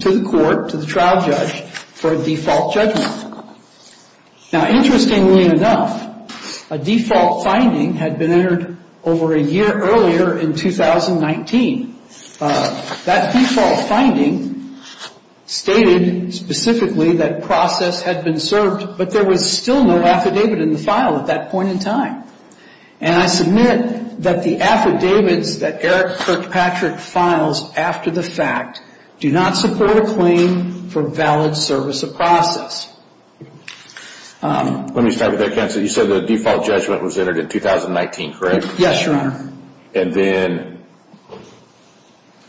to the court, to the trial judge, for a default judgment. Now interestingly enough, a default finding had been entered over a year earlier in 2019. That default finding stated specifically that process had been served, but there was still no affidavit in the file at that point in time. And I submit that the affidavits that Eric Kirkpatrick files after the fact do not support a claim for valid service of process. Let me start with that, counsel. You said the default judgment was entered in 2019, correct? Yes, Your Honor. And then...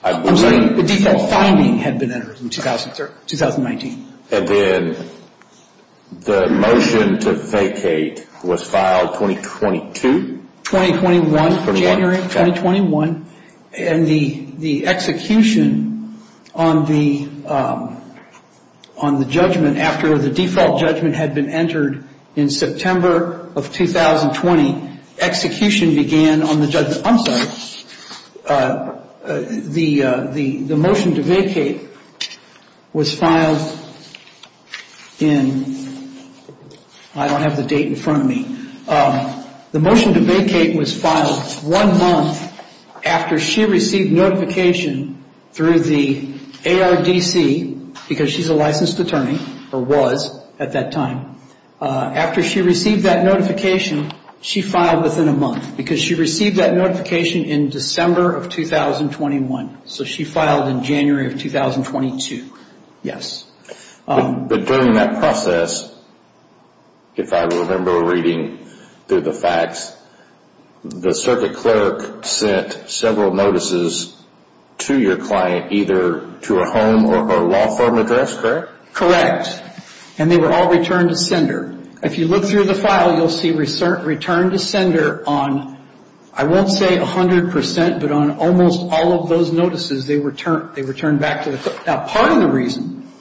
The default finding had been entered in 2019. And then the motion to vacate was filed 2022? 2021, January of 2021. And the execution on the judgment after the default judgment had been entered in September of 2020, execution began on the judgment... I'm sorry. The motion to vacate was filed in... I don't have the date in front of me. The motion to vacate was filed one month after she received notification through the ARDC, because she's a licensed attorney or was at that time. After she received that notification, she filed within a month, because she received that notification in December of 2021. So she filed in January of 2022. Yes. But during that process, if I remember reading correctly through the facts, the circuit clerk sent several notices to your client, either to her home or law firm address, correct? Correct. And they were all returned to sender. If you look through the file, you'll see returned to sender on, I won't say 100%, but on almost all of those notices, they were returned back to the... Now, part of the reason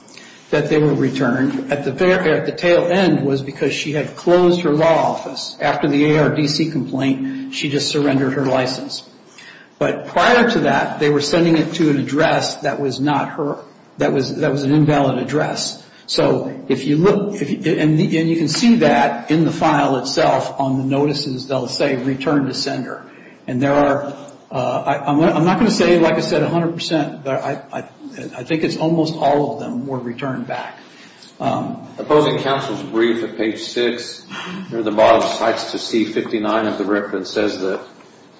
that they were returned at the tail end was because she had closed her law office. After the ARDC complaint, she just surrendered her license. But prior to that, they were sending it to an address that was not her... that was an invalid address. So if you look... and you can see that in the file itself on the notices, they'll say returned to sender. And there are... I'm not going to say, like I said, 100%, but I think it's almost all of them were returned back. Opposing counsel's brief at page 6, near the bottom, cites to C-59 of the reference, says that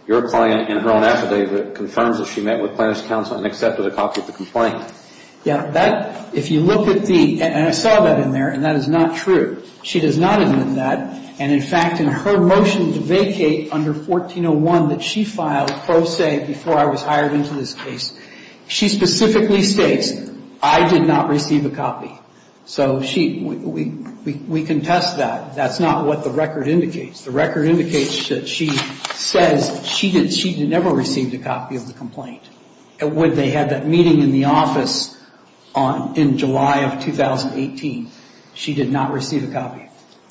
your client in her own affidavit confirms that she met with plaintiff's counsel and accepted a copy of the complaint. Yeah, that... if you look at the... and I saw that in there, and that is not true. She does not admit that. And in fact, in her motion to vacate under 1401 that she filed pro se before I was hired into this case, she specifically states I did not receive a copy. So she... we contest that. That's not what the record indicates. The record indicates that she says she never received a copy of the complaint. When they had that meeting in the office in July of 2018, she did not receive a copy.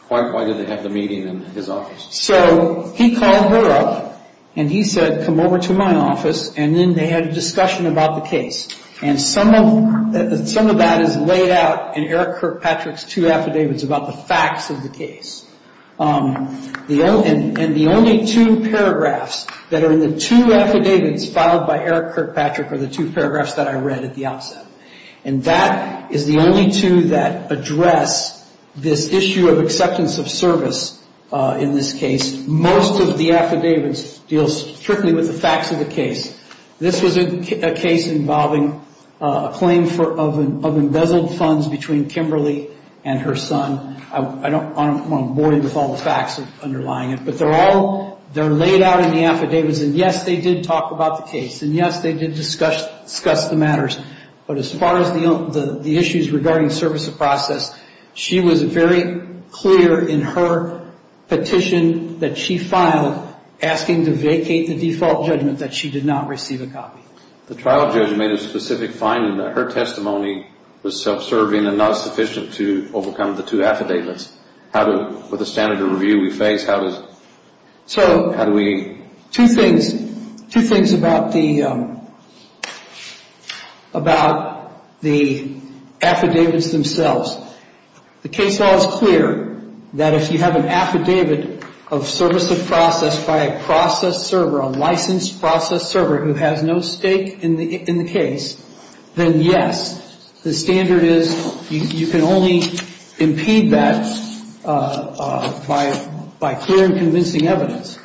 Why did they have the meeting in his office? So he called her up and he said, come over to my office, and then they had a discussion about the case. And some of that is laid out in Eric Kirkpatrick's two affidavits about the facts of the case. And the only two paragraphs that are in the two affidavits filed by Eric Kirkpatrick are the two paragraphs that I read at the outset. And that is the only two that address this issue of acceptance of service in this case. Most of the affidavits deal strictly with the facts of the case. This was a case involving a claim of embezzled funds between Kimberly and her son. I don't want to bore you with all the facts underlying it, but they're all they're laid out in the affidavits. And yes, they did talk about the case. And yes, they did discuss the matters. But as far as the issues regarding service of process, she was very clear in her petition that she filed asking to vacate the default judgment that she did not receive a copy. The trial judge made a specific finding that her testimony was self-serving and not sufficient to overcome the two affidavits. With the standard of review we face, how does... Two things about the affidavits themselves. The case law is clear that if you have an affidavit of service of process by a process server, a licensed process server who has no stake in the case, then yes, the standard is you can only impede that by clear and convincing evidence.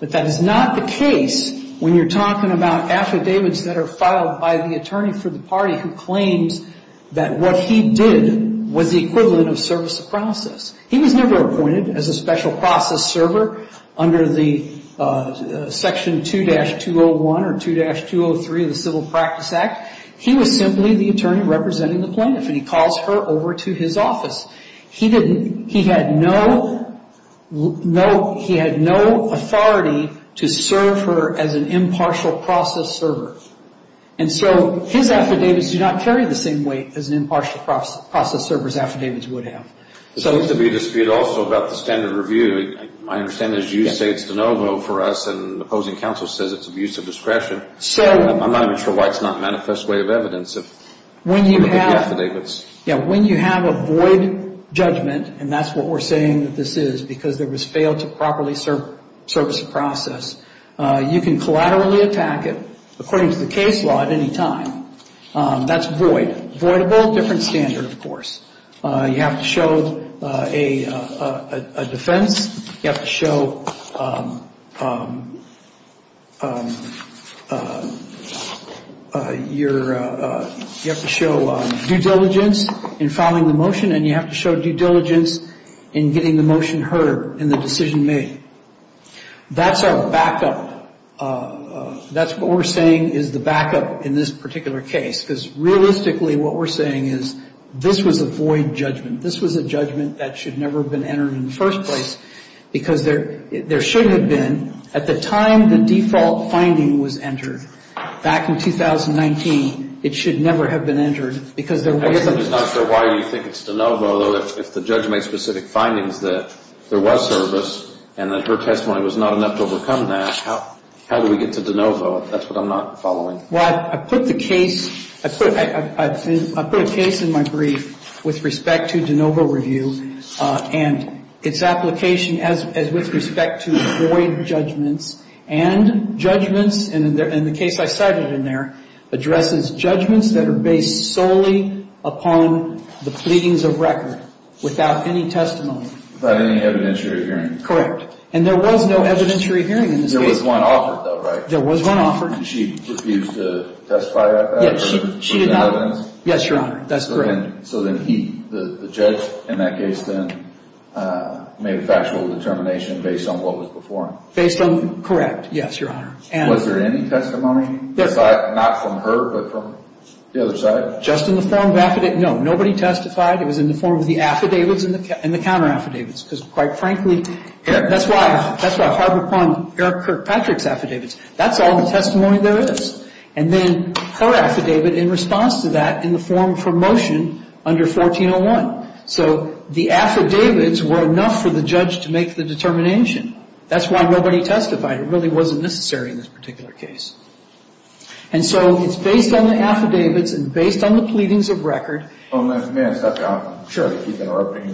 But that is not the case when you're talking about affidavits that are filed by the attorney for the party who claims that what he did was the equivalent of service of process. He was never appointed as a special process server under the section 2-201 or 2-203 of the Civil Practice Act. He was simply the attorney representing the plaintiff and he calls her over to his office. He had no authority to serve her as an impartial process server. And so his affidavits do not carry the same weight as an impartial process server's affidavits would have. There seems to be a dispute also about the standard review. I understand it's use states de novo for us and the opposing counsel says it's abuse of discretion. I'm not even sure why it's not a manifest way of evidence of affidavits. When you have a void judgment, and that's what we're saying that this is because there was failed to properly service process, you can collaterally attack it according to the case law at any time. That's void. Voidable, different standard of course. You have to show a defense. You have to show due diligence in filing the motion and you have to show due diligence in getting the motion heard and the decision made. That's our backup. That's what we're saying is the backup in this particular case because realistically what we're saying is this was a void judgment. This was a judgment that should never have been entered in the first place because there should have been at the time the default finding was entered back in 2019. It should never have been entered because there wasn't. I'm just not sure why you think it's de novo. If the judge made specific findings that there was service and that her testimony was not enough to overcome that, how do we get to de novo? That's what I'm not following. Well, I put the case, I put a case in my brief with respect to de novo review and its application as with respect to void judgments and judgments and the case I cited in there addresses judgments that are based solely upon the pleadings of record without any testimony. Without any evidentiary hearing. Correct. And there was no evidentiary hearing in this case. There was one offered though, right? There was one offered. Did she refuse to testify at that? Yes, Your Honor. That's correct. So then he, the judge in that case then made a factual determination based on what was before him? Correct, yes, Your Honor. Was there any testimony? Not from her, but from the other side? Just in the form of affidavits. No, nobody testified. It was in the form of the affidavits and the counter affidavits because quite frankly, that's why it's hard upon Eric Kirkpatrick's affidavits. That's all the testimony there is. And then her affidavit in response to that in the form for motion under 1401. So the affidavits were enough for the judge to make the determination. That's why nobody testified. It really wasn't necessary in this particular case. And so it's based on the affidavits and based on the pleadings of record. May I stop you? Sure. To keep interrupting.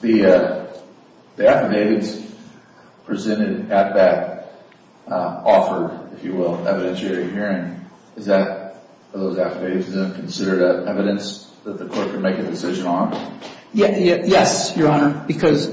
The affidavits presented at that offer, if you will, evidentiary hearing. Is that, are those affidavits considered evidence that the court can make a decision on? Yes, Your Honor. Because,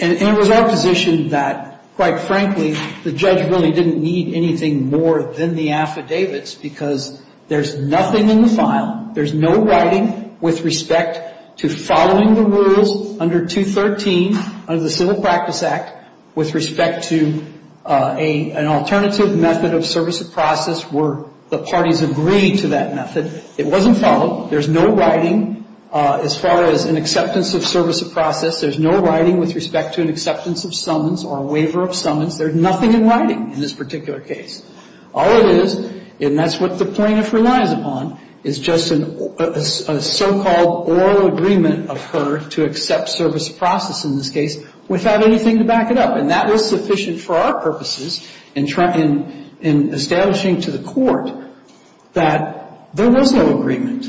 and it was our position that quite frankly, the judge really didn't need anything more than the affidavits because there's nothing in the file. There's no writing with respect to following the rules under 213 of the Civil Practice Act with respect to an alternative method of service of process where the parties agreed to that method. It wasn't followed. There's no writing as far as an acceptance of service of process. There's no writing with respect to an acceptance of summons or a waiver of summons. There's nothing in writing in this particular case. All it is, and that's what the plaintiff relies upon, is just a so-called oral agreement of her to accept service of process in this case without anything to back it up. And that was sufficient for our purposes in establishing to the court that there was no agreement.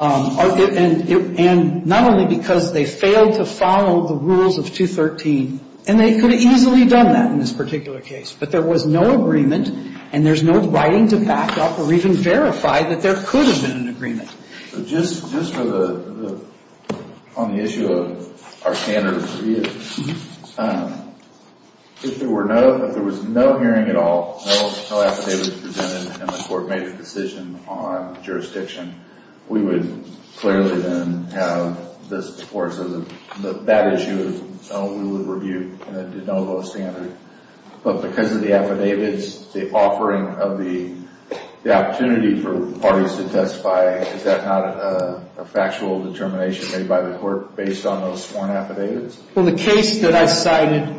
And not only because they failed to follow the rules of 213, and they could have easily done that in this particular case, but there was no agreement and there's no writing to back up or even verify that there could have been an agreement. So just on the issue of our standard of review, if there was no hearing at all, no affidavits presented, and the court made a decision on jurisdiction, we would clearly then have this or that issue we would review, and it did not go to standard. But because of the affidavits, the offering of the opportunity for parties to testify, is that not a factual determination made by the court based on those sworn affidavits? Well, the case that I cited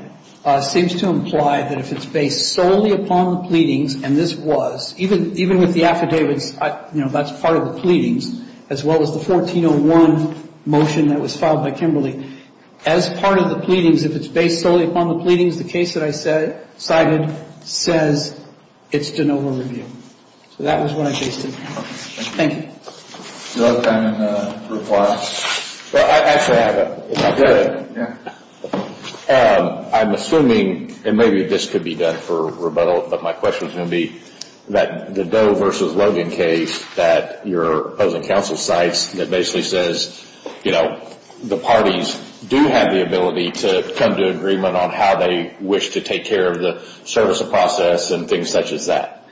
seems to imply that if it's based solely upon the pleadings, and this was, even with the affidavits, you know, that's part of the pleadings, as well as the 1401 motion that was filed by Kimberly. As part of the pleadings, if it's based solely upon the pleadings, the case that I cited says it's de novo review. So that was what I based it on. Thank you. I'm assuming, and maybe this could be done for rebuttal, but my question is going to be that the Doe versus Logan case that your opposing counsel cites, that basically says, you know, the parties do have the ability to come to agreement on how they wish to take care of the service of process and things such as that.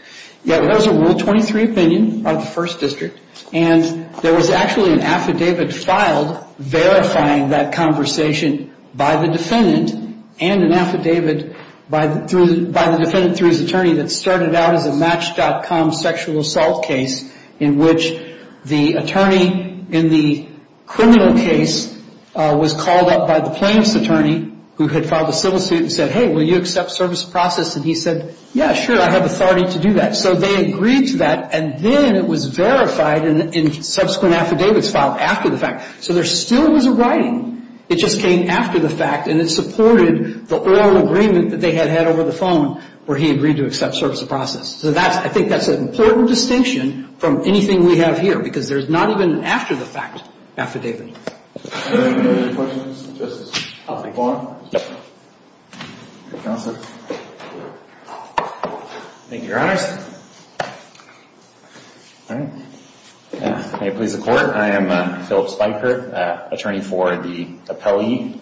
Yeah, that was a Rule 23 opinion of the First District, and there was actually an affidavit filed verifying that conversation by the defendant and an affidavit by the defendant through his attorney that started out as a Match.com sexual assault case in which the attorney in the criminal case was called up by the plaintiff's attorney who had filed a civil suit and said, hey, will you accept service of process? And he said, yeah, sure, I have authority to do that. So they agreed to that, and then it was verified in subsequent affidavits filed after the fact. So there still was a writing. It just came after the fact, and it supported the oral agreement that they had had over the phone where he agreed to accept service of process. So that's, I think that's an important distinction from anything we have here, because there's not even an after the fact affidavit. Thank you. Thank you, Your Honors. May it please the Court, I am Phillip Spiker, attorney for the appellee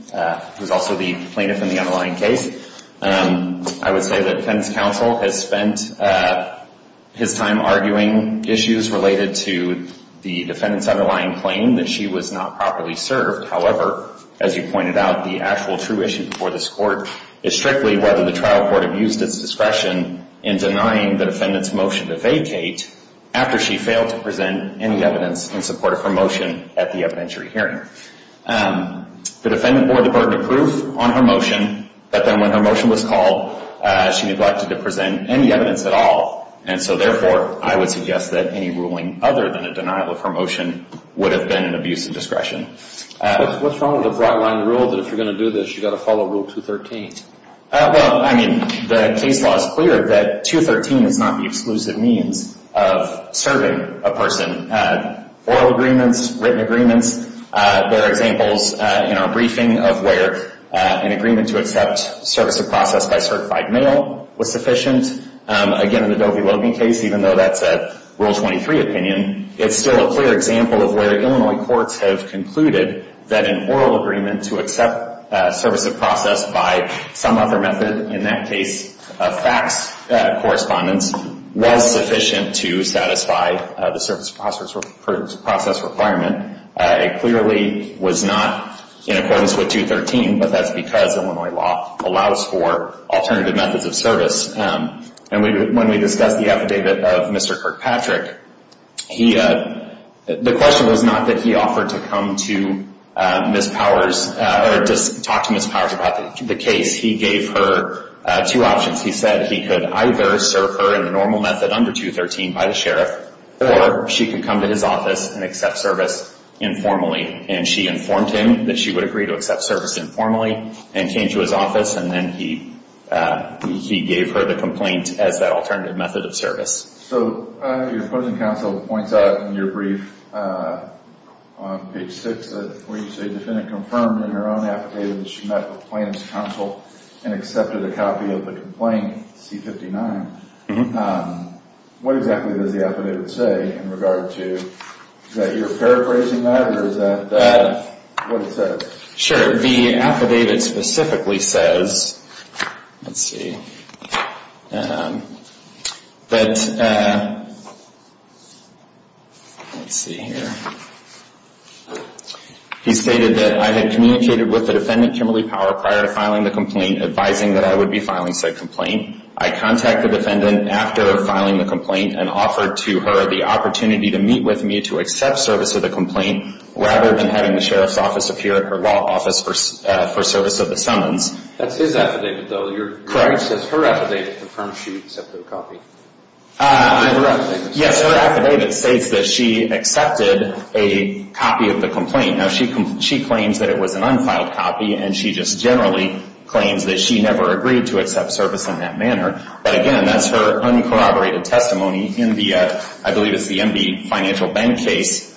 who is also the plaintiff in the underlying case. I would say that defendant's counsel has spent his time arguing issues related to the defendant's underlying claim that she was not properly served. However, as you pointed out, the actual true issue before this Court is strictly whether the trial court abused its discretion in denying the defendant's motion to vacate after she failed to present any evidence in support of her motion at the evidentiary hearing. The defendant bore the burden of proof on her motion, but then when her motion was called, she neglected to present any evidence at all. And so therefore, I would suggest that any ruling other than a denial of her motion would have been an abuse of discretion. What's wrong with the broad line rule that if you're going to do this, you've got to follow Rule 213? Well, I mean, the case law is clear that 213 is not the exclusive means of serving a person. Oral agreements, written agreements, there are examples in our briefing of where an agreement to accept service of process by certified male was sufficient. Again, in the Dovey-Logan case, even though that's a Rule 23 opinion, it's still a clear example of where Illinois courts have concluded that an oral agreement to accept service of process by some other method, in that case fax correspondence, was sufficient to satisfy the service of process requirement. It clearly was not in accordance with 213, but that's because Illinois law allows for alternative methods of service. And when we discussed the affidavit of Mr. Kirkpatrick, the question was not that he offered to come to Ms. Powers, or just talk to Ms. Powers about the case. He gave her two options. He said he could either serve her in the normal method under 213 by the sheriff, or she could come to his office and accept service informally. And she informed him that she would agree to accept service informally, and came to his office, and then he gave her the complaint as that alternative method of service. So, your opposing counsel points out in your brief on page 6, where you say the defendant confirmed in her own affidavit that she met with plaintiff's counsel and accepted a copy of the complaint, C-59. What exactly does the affidavit say in regard to, is that you're paraphrasing that, or is that what it says? Sure, the affidavit specifically says, let's see, that, let's see here, he stated that, I had communicated with the defendant, Kimberly Power, prior to filing the complaint, advising that I would be filing said complaint. I contacted the defendant after filing the complaint, and offered to her the opportunity to meet with me to accept service of the complaint, rather than having the sheriff's office appear at her law office for service of the summons. That's his affidavit, though. Your brief says her affidavit confirms she accepted a copy. Yes, her affidavit states that she accepted a copy of the complaint. Now, she claims that it was an unfiled copy, and she just generally claims that she never agreed to accept service in that manner. But again, that's her uncorroborated testimony in the, I believe it's the MB Financial Bank case,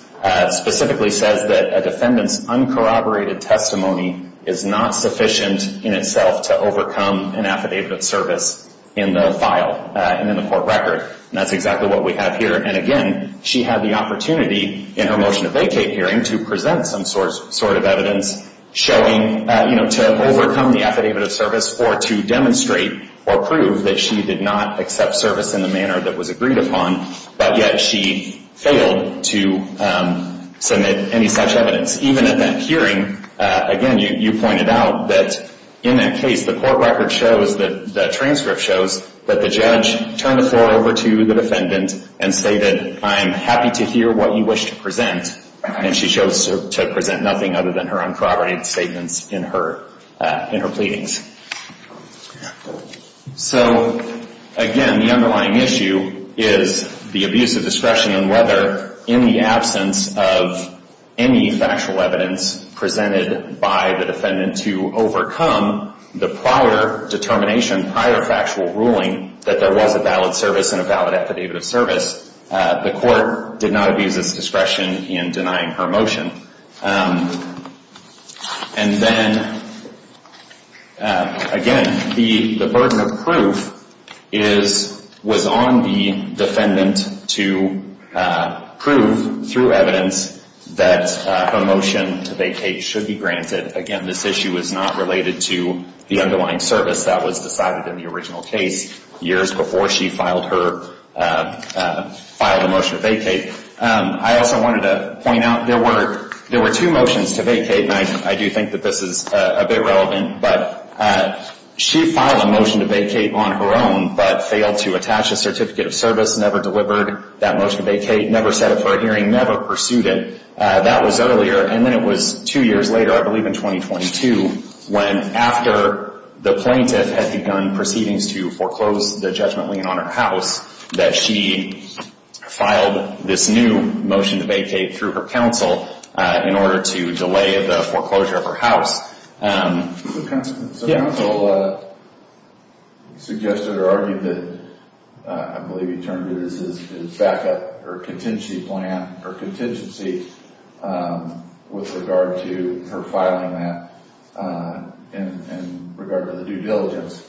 specifically says that a defendant's uncorroborated testimony is not sufficient in itself to overcome an affidavit of service in the file and in the court record. And that's exactly what we have here. And again, she had the opportunity in her motion of vacate hearing to present some sort of evidence showing, you know, to overcome the affidavit of service or to demonstrate or prove that she did not accept service in the manner that was agreed upon, but yet she failed to submit any such evidence. Even at that hearing, again, you pointed out that in that case, the court record shows that the transcript shows that the judge turned the floor over to the defendant and stated, I'm happy to hear what you wish to present, and she chose to present nothing other than her uncorroborated statements in her pleadings. So, again, the underlying issue is the abuse of discretion on whether in the absence of any factual evidence presented by the defendant to overcome the prior determination, prior factual ruling, that there was a valid service and a valid affidavit of service. The court did not abuse its discretion in denying her motion. And then, again, the burden of proof was on the defendant to prove through evidence that her motion to vacate should be granted. Again, this issue is not related to the underlying service that was decided in the original case years before she filed her motion to vacate. I also wanted to point out there were two motions to vacate, and I do think that this is a bit relevant, but she filed a motion to vacate on her own, but failed to attach a certificate of service, never delivered that motion to vacate, never set up for a hearing, never pursued it. That was earlier, and then it was two years later, I believe in 2022, when after the plaintiff had begun proceedings to foreclose the judgment lien on her house that she filed this new motion to vacate through her counsel in order to delay the foreclosure of her Counsel suggested or argued that, I believe he termed it his backup or contingency plan or contingency with regard to her filing that in regard to the due diligence.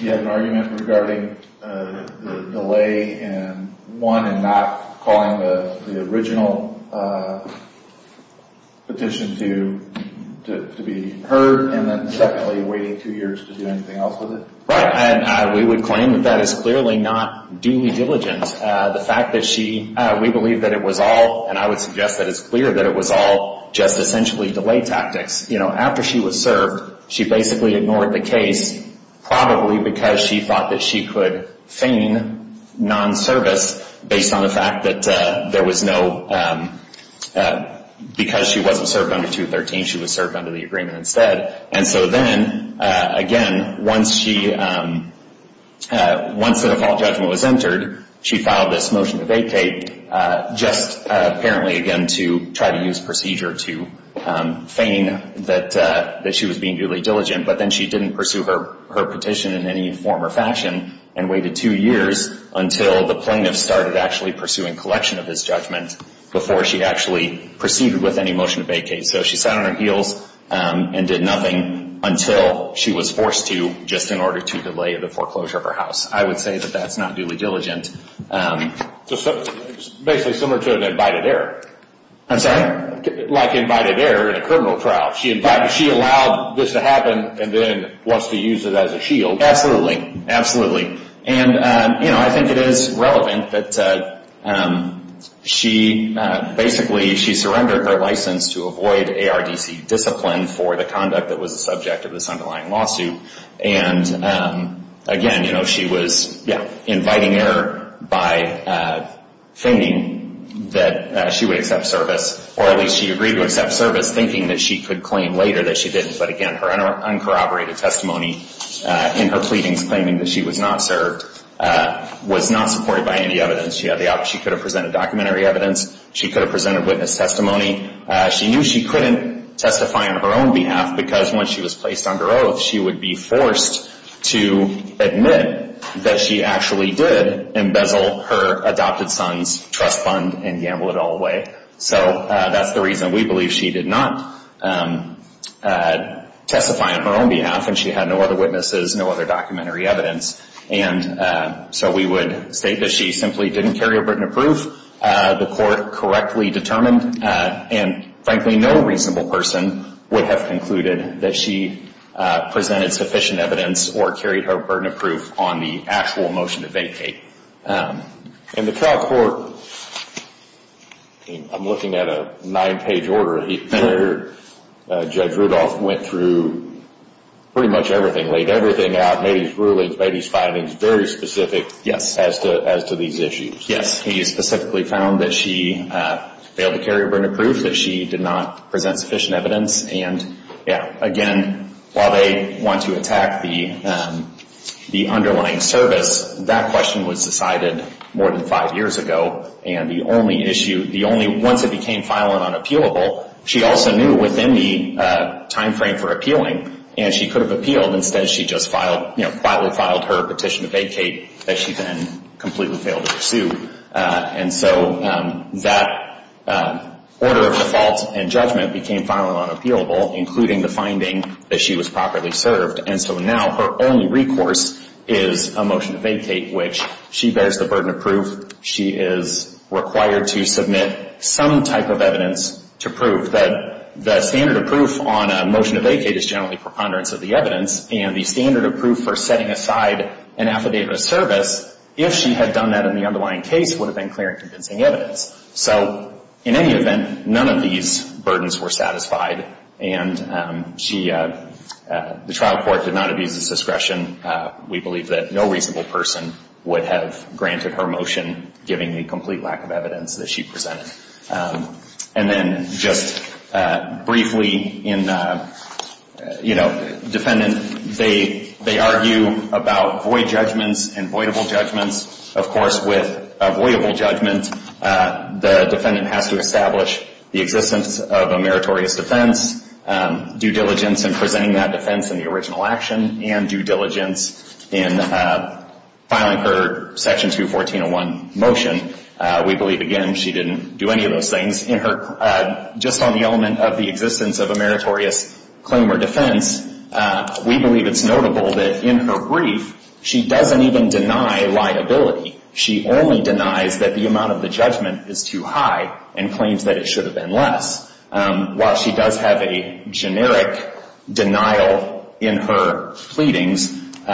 He had an argument regarding the delay in one and not calling the original petition to be heard, and then secondly, waiting two years to do anything else with it. Right, and we would claim that that is clearly not duly diligent. The fact that she, we believe that it was all, and I would suggest that it's clear that it was all just essentially delay tactics. You know, after she was served she basically ignored the case probably because she thought that she could feign non-service based on the fact that there was no, because she wasn't served under 213, she was served under the agreement instead. And so then again, once she, once the default judgment was entered, she filed this motion to vacate just apparently again to try to use procedure to feign that she was being duly diligent, but then she didn't pursue her petition in any form or fashion and waited two years until the plaintiff started actually pursuing collection of this judgment before she actually proceeded with any motion to vacate. So she sat on her heels and did nothing until she was forced to just in order to delay the foreclosure of her house. I would say that that's not duly diligent. So basically similar to an invited error. I'm sorry? Like invited error in a criminal trial. She allowed this to happen and then wants to use it as a shield. Absolutely, absolutely. And you know, I think it is relevant that she basically, she surrendered her license to avoid ARDC discipline for the conduct that was the subject of this underlying lawsuit. And again, you know, she was inviting error by feigning that she would accept service, or at least she agreed to accept service thinking that she could claim later that she didn't. But again, her uncorroborated testimony in her pleadings claiming that she was not served was not supported by any evidence. She could have presented documentary evidence. She could have presented witness testimony. She knew she couldn't testify on her own behalf because when she was placed under oath, she would be forced to admit that she actually did embezzle her adopted son's trust fund and gamble it all away. So that's the reason we believe she did not testify on her own behalf and she had no other witnesses, no other documentary evidence. And so we would state that she simply didn't carry a burden of proof. The court correctly determined and frankly no reasonable person would have concluded that she presented sufficient evidence or carried her burden of proof on the actual motion to vacate. And the trial court I'm looking at a nine page order where Judge Rudolph went through pretty much everything, laid everything out, made his rulings, made his findings very specific as to these issues. Yes, he specifically found that she failed to carry a burden of proof, that she did not present sufficient evidence and again, while they want to attack the underlying service, that question was decided more than five years ago and the only issue, the only once it became final and unappealable, she also knew within the time frame for appealing and she could have appealed, instead she just filed you know, quietly filed her petition to vacate that she then completely failed to pursue. And so that order of default and judgment became final and unappealable including the finding that she was properly served and so now her only recourse is a motion to vacate which she bears the burden of proof, she is required to submit some type of evidence to prove that the standard of proof on a motion to vacate is generally preponderance of the evidence and the standard of proof for setting aside an affidavit of service if she had done that in the underlying case would have been clear and convincing evidence. So in any event, none of these burdens were satisfied and she, the trial court did not abuse this discretion. We believe that no reasonable person would have granted her motion giving the complete lack of evidence that she presented. And then just briefly in you know, defendant, they argue about void judgments and voidable judgments. Of course with a voidable judgment, the defendant has to establish the existence of a meritorious defense, due diligence in presenting that defense in the original action and due diligence in filing her section 214.01 motion. We believe again she didn't do any of those things. Just on the element of the existence of a meritorious claim or defense, we believe it's notable that in her brief she doesn't even deny liability. She only denies that the amount of the judgment is too high and claims that it should have been less. While she does have a generic denial in her pleadings, in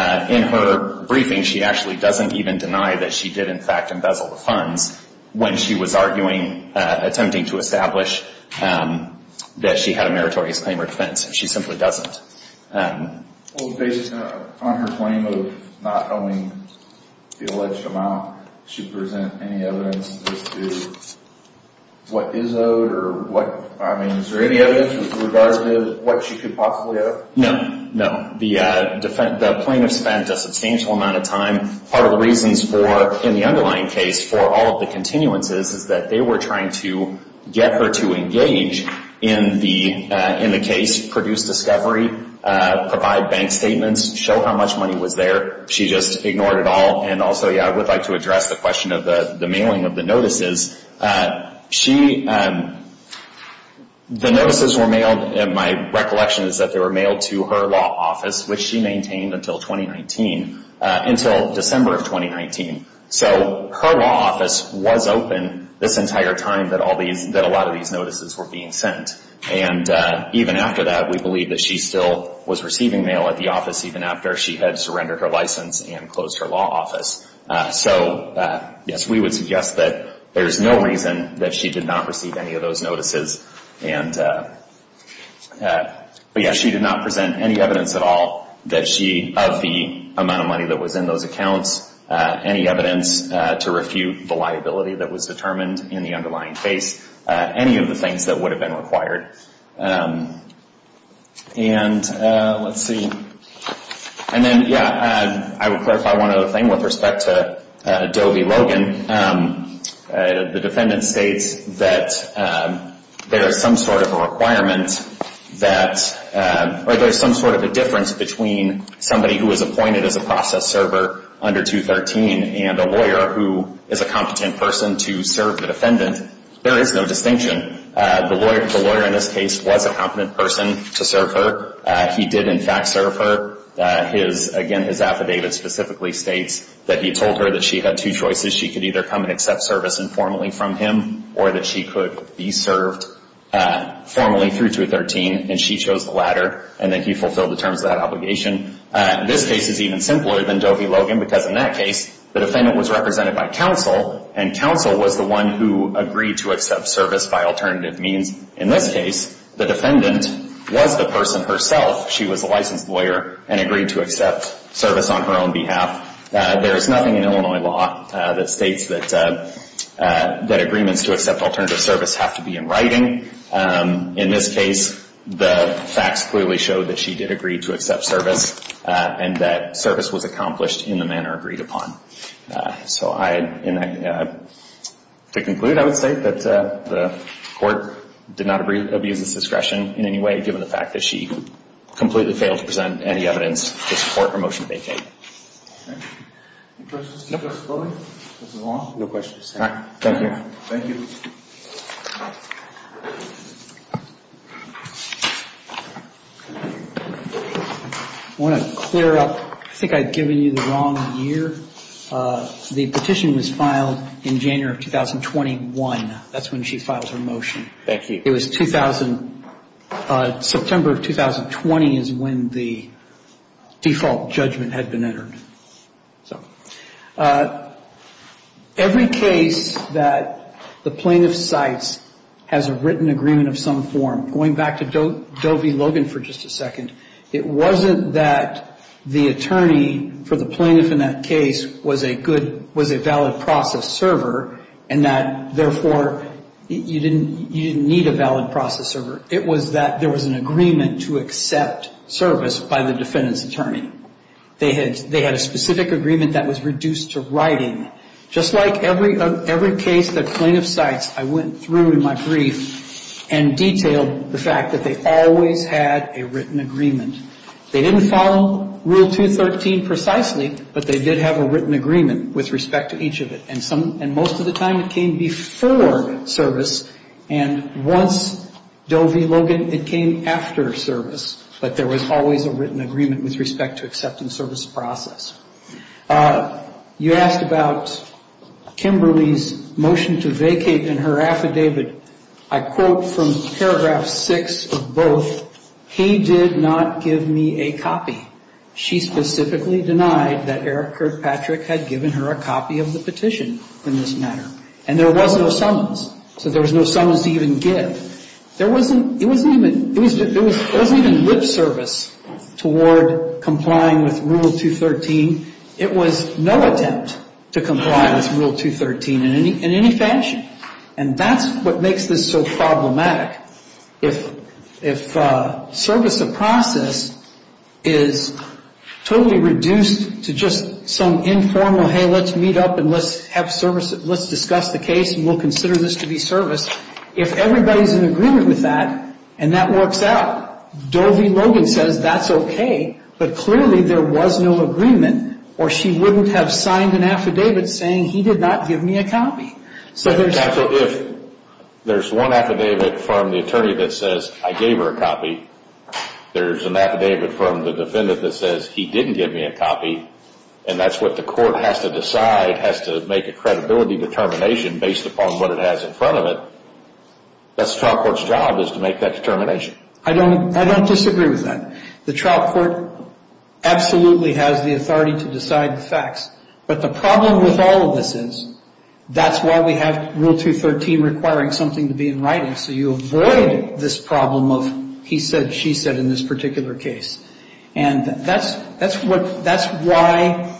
her briefing she actually doesn't even deny that she did in fact embezzle the funds when she was arguing attempting to establish that she had a meritorious claim or defense. She simply doesn't. Based on her claim of not knowing the alleged amount, does she present any evidence as to what is owed or what, I mean, is there any evidence with regard to what she could possibly owe? No. The plaintiff spent a substantial amount of time. Part of the reasons for in the underlying case for all of the continuances is that they were trying to get her to engage in the case, produce discovery, provide bank statements, show how much money was there. She just ignored it all. And also, yeah, I would like to address the question of the mailing of the notices. The notices were mailed, and my recollection is that they were mailed to her law office, which she maintained until 2019, until December of 2019. So her law office was open this entire time that a lot of these notices were being sent. And even after that, we believe that she still was receiving mail at the office even after she had surrendered her license and closed her law office. So, yes, we would suggest that there's no reason that she did not receive any of those notices. But, yes, she did not present any evidence at all that she, of the amount of money that was in those accounts, any evidence to refute the liability that was determined in the underlying case, any of the things that would have been required. And, let's see, and then yeah, I would clarify one other thing with respect to Dobie Logan. The defendant states that there is some sort of a requirement that, or there's some sort of a difference between somebody who was appointed as a process server under 213 and a lawyer who is a competent person to serve the defendant. There is no distinction. The lawyer in this case was a competent person to serve her. He did in fact serve her. Again, his affidavit specifically states that he told her that she had two choices. She could either come and accept service informally from him or that she could be served formally through 213. And she chose the latter. And then he fulfilled the terms of that obligation. This case is even simpler than Dobie Logan because in that case, the defendant was represented by counsel and counsel was the one who agreed to accept service by alternative means. In this case, the defendant was the person herself. She was a licensed lawyer and agreed to accept service on her own behalf. There is nothing in Illinois law that states that agreements to accept alternative service have to be in writing. In this case, the facts clearly showed that she did agree to accept service and that service was accomplished in the manner agreed upon. To conclude, I would say that the Court did not abuse this discretion in any way given the fact that she completely failed to present any evidence to support her motion to vacate. Any questions? No questions. Thank you. I want to clear up, I think I've given you the wrong year. The petition was filed in January of 2021. That's when she filed her motion. Thank you. It was 2000, September of 2020 is when the default judgment had been entered. Every case that is filed, the plaintiff cites has a written agreement of some form. Going back to Dovie Logan for just a second, it wasn't that the attorney for the plaintiff in that case was a good was a valid process server and that therefore you didn't need a valid process server. It was that there was an agreement to accept service by the defendant's attorney. They had a specific agreement that was reduced to writing. Just like every case that plaintiff cites, I went through in my brief and detailed the fact that they always had a written agreement. They didn't follow Rule 213 precisely, but they did have a written agreement with respect to each of it. Most of the time it came before service and once Dovie Logan, it came after service, but there was always a written agreement with respect to accepting service process. You asked about Kimberly's motion to vacate in her affidavit. I quote from paragraph 6 of both, he did not give me a copy. She specifically denied that Eric Kirkpatrick had given her a copy of the petition in this matter. And there was no summons. So there was no summons to even give. There wasn't even lip service toward complying with Rule 213. It was no attempt to comply with Rule 213 in any fashion. And that's what makes this so problematic. If service of process is totally reduced to just some informal, hey, let's meet up and let's discuss the case and we'll consider this to be service, if everybody's in agreement with that and that works out, Dovie Logan says that's okay, but clearly there was no agreement or she wouldn't have signed an affidavit saying he did not give me a copy. If there's one affidavit from the attorney that says I gave her a copy, there's an affidavit from the defendant that says he didn't give me a copy and that's what the court has to decide, has to make a credibility determination based upon what it has in front of it. That's how court's job is to make that determination. I don't disagree with that. The trial court absolutely has the authority to decide the facts. But the problem with all of this is that's why we have Rule 213 requiring something to be in writing so you avoid this problem of he said, she said in this particular case. And that's why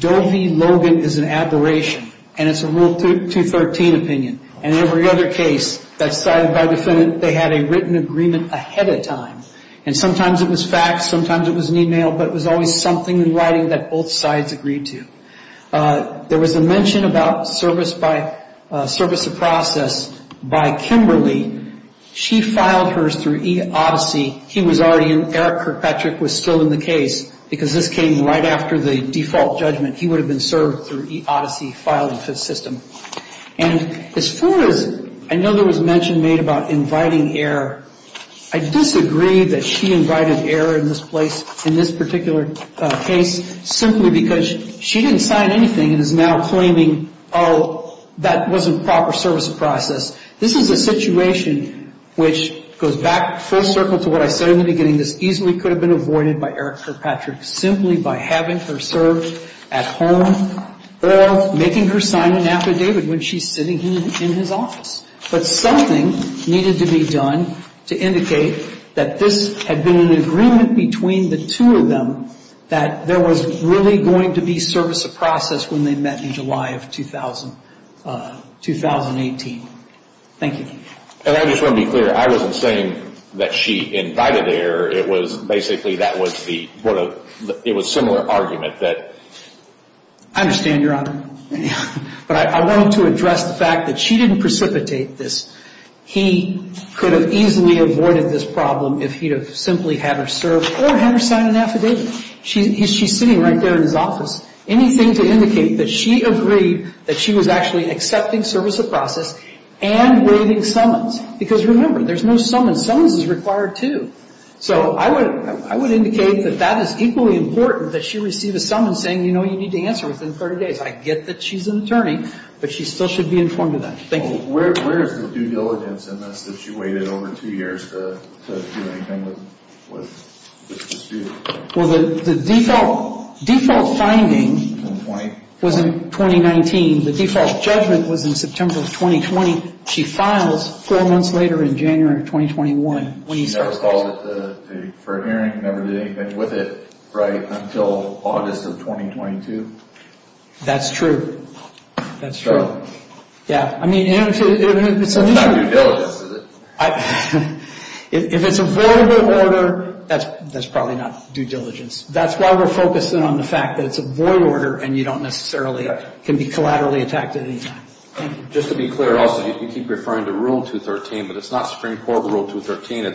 Dovie Logan is an aberration and it's a Rule 213 opinion. And every other case that's cited by the defendant, they had a written agreement ahead of time. And sometimes it was facts, sometimes it was an email, but it was always something in writing that both sides agreed to. There was a mention about service by, service of process by Kimberly. She filed hers through e-Odyssey. He was already in, Eric Kirkpatrick was still in the case because this came right after the default judgment. He would have been served through e-Odyssey, filed in Fifth System. And as far as, I know there was a mention made about inviting error. I disagree that she invited error in this place, in this particular case, simply because she didn't sign anything and is now claiming, oh, that wasn't proper service of process. This is a situation which goes back full circle to what I said in the beginning. This easily could have been avoided by Eric Kirkpatrick simply by having her served at home or making her sign an affidavit when she's sitting in his office. But something needed to be done to indicate that this had been an agreement between the two of them that there was really going to be service of process when they met in July of 2018. Thank you. And I just want to be clear. I wasn't saying that she invited error. It was basically that was the, it was similar argument that. I understand, Your Honor. But I wanted to address the fact that she didn't precipitate this. He could have easily avoided this problem if he'd have simply had her served or had her sign an affidavit. She's sitting right there in his office. Anything to indicate that she agreed that she was actually accepting service of process and waiving summons. Because remember, there's no summons. Summons is required, too. So I would indicate that that is equally important that she receive a summons saying, you know, you need to answer within 30 days. I get that she's an attorney, but she still should be informed of that. Thank you. Where is the due diligence in this that she waited over two years to do anything with the dispute? The default finding was in 2019. The default judgment was in September of 2020. She files four months later in January of 2021. She never called it for a hearing, never did anything with it right until August of 2022? That's true. That's true. That's not due diligence, is it? If it's a void order, that's probably not due diligence. That's why we're focusing on the fact that it's a void order and you don't necessarily can be collaterally attacked at any time. Just to be clear also, you keep referring to Rule 213, but it's not Supreme Court Rule 213.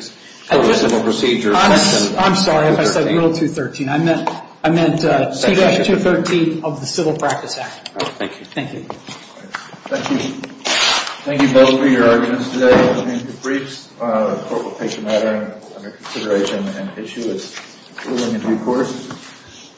I'm sorry if I said Rule 213. I meant 2-213 of the Civil Practice Act. Thank you. Thank you both for your arguments today. The court will take the matter under consideration and issue its ruling in due course.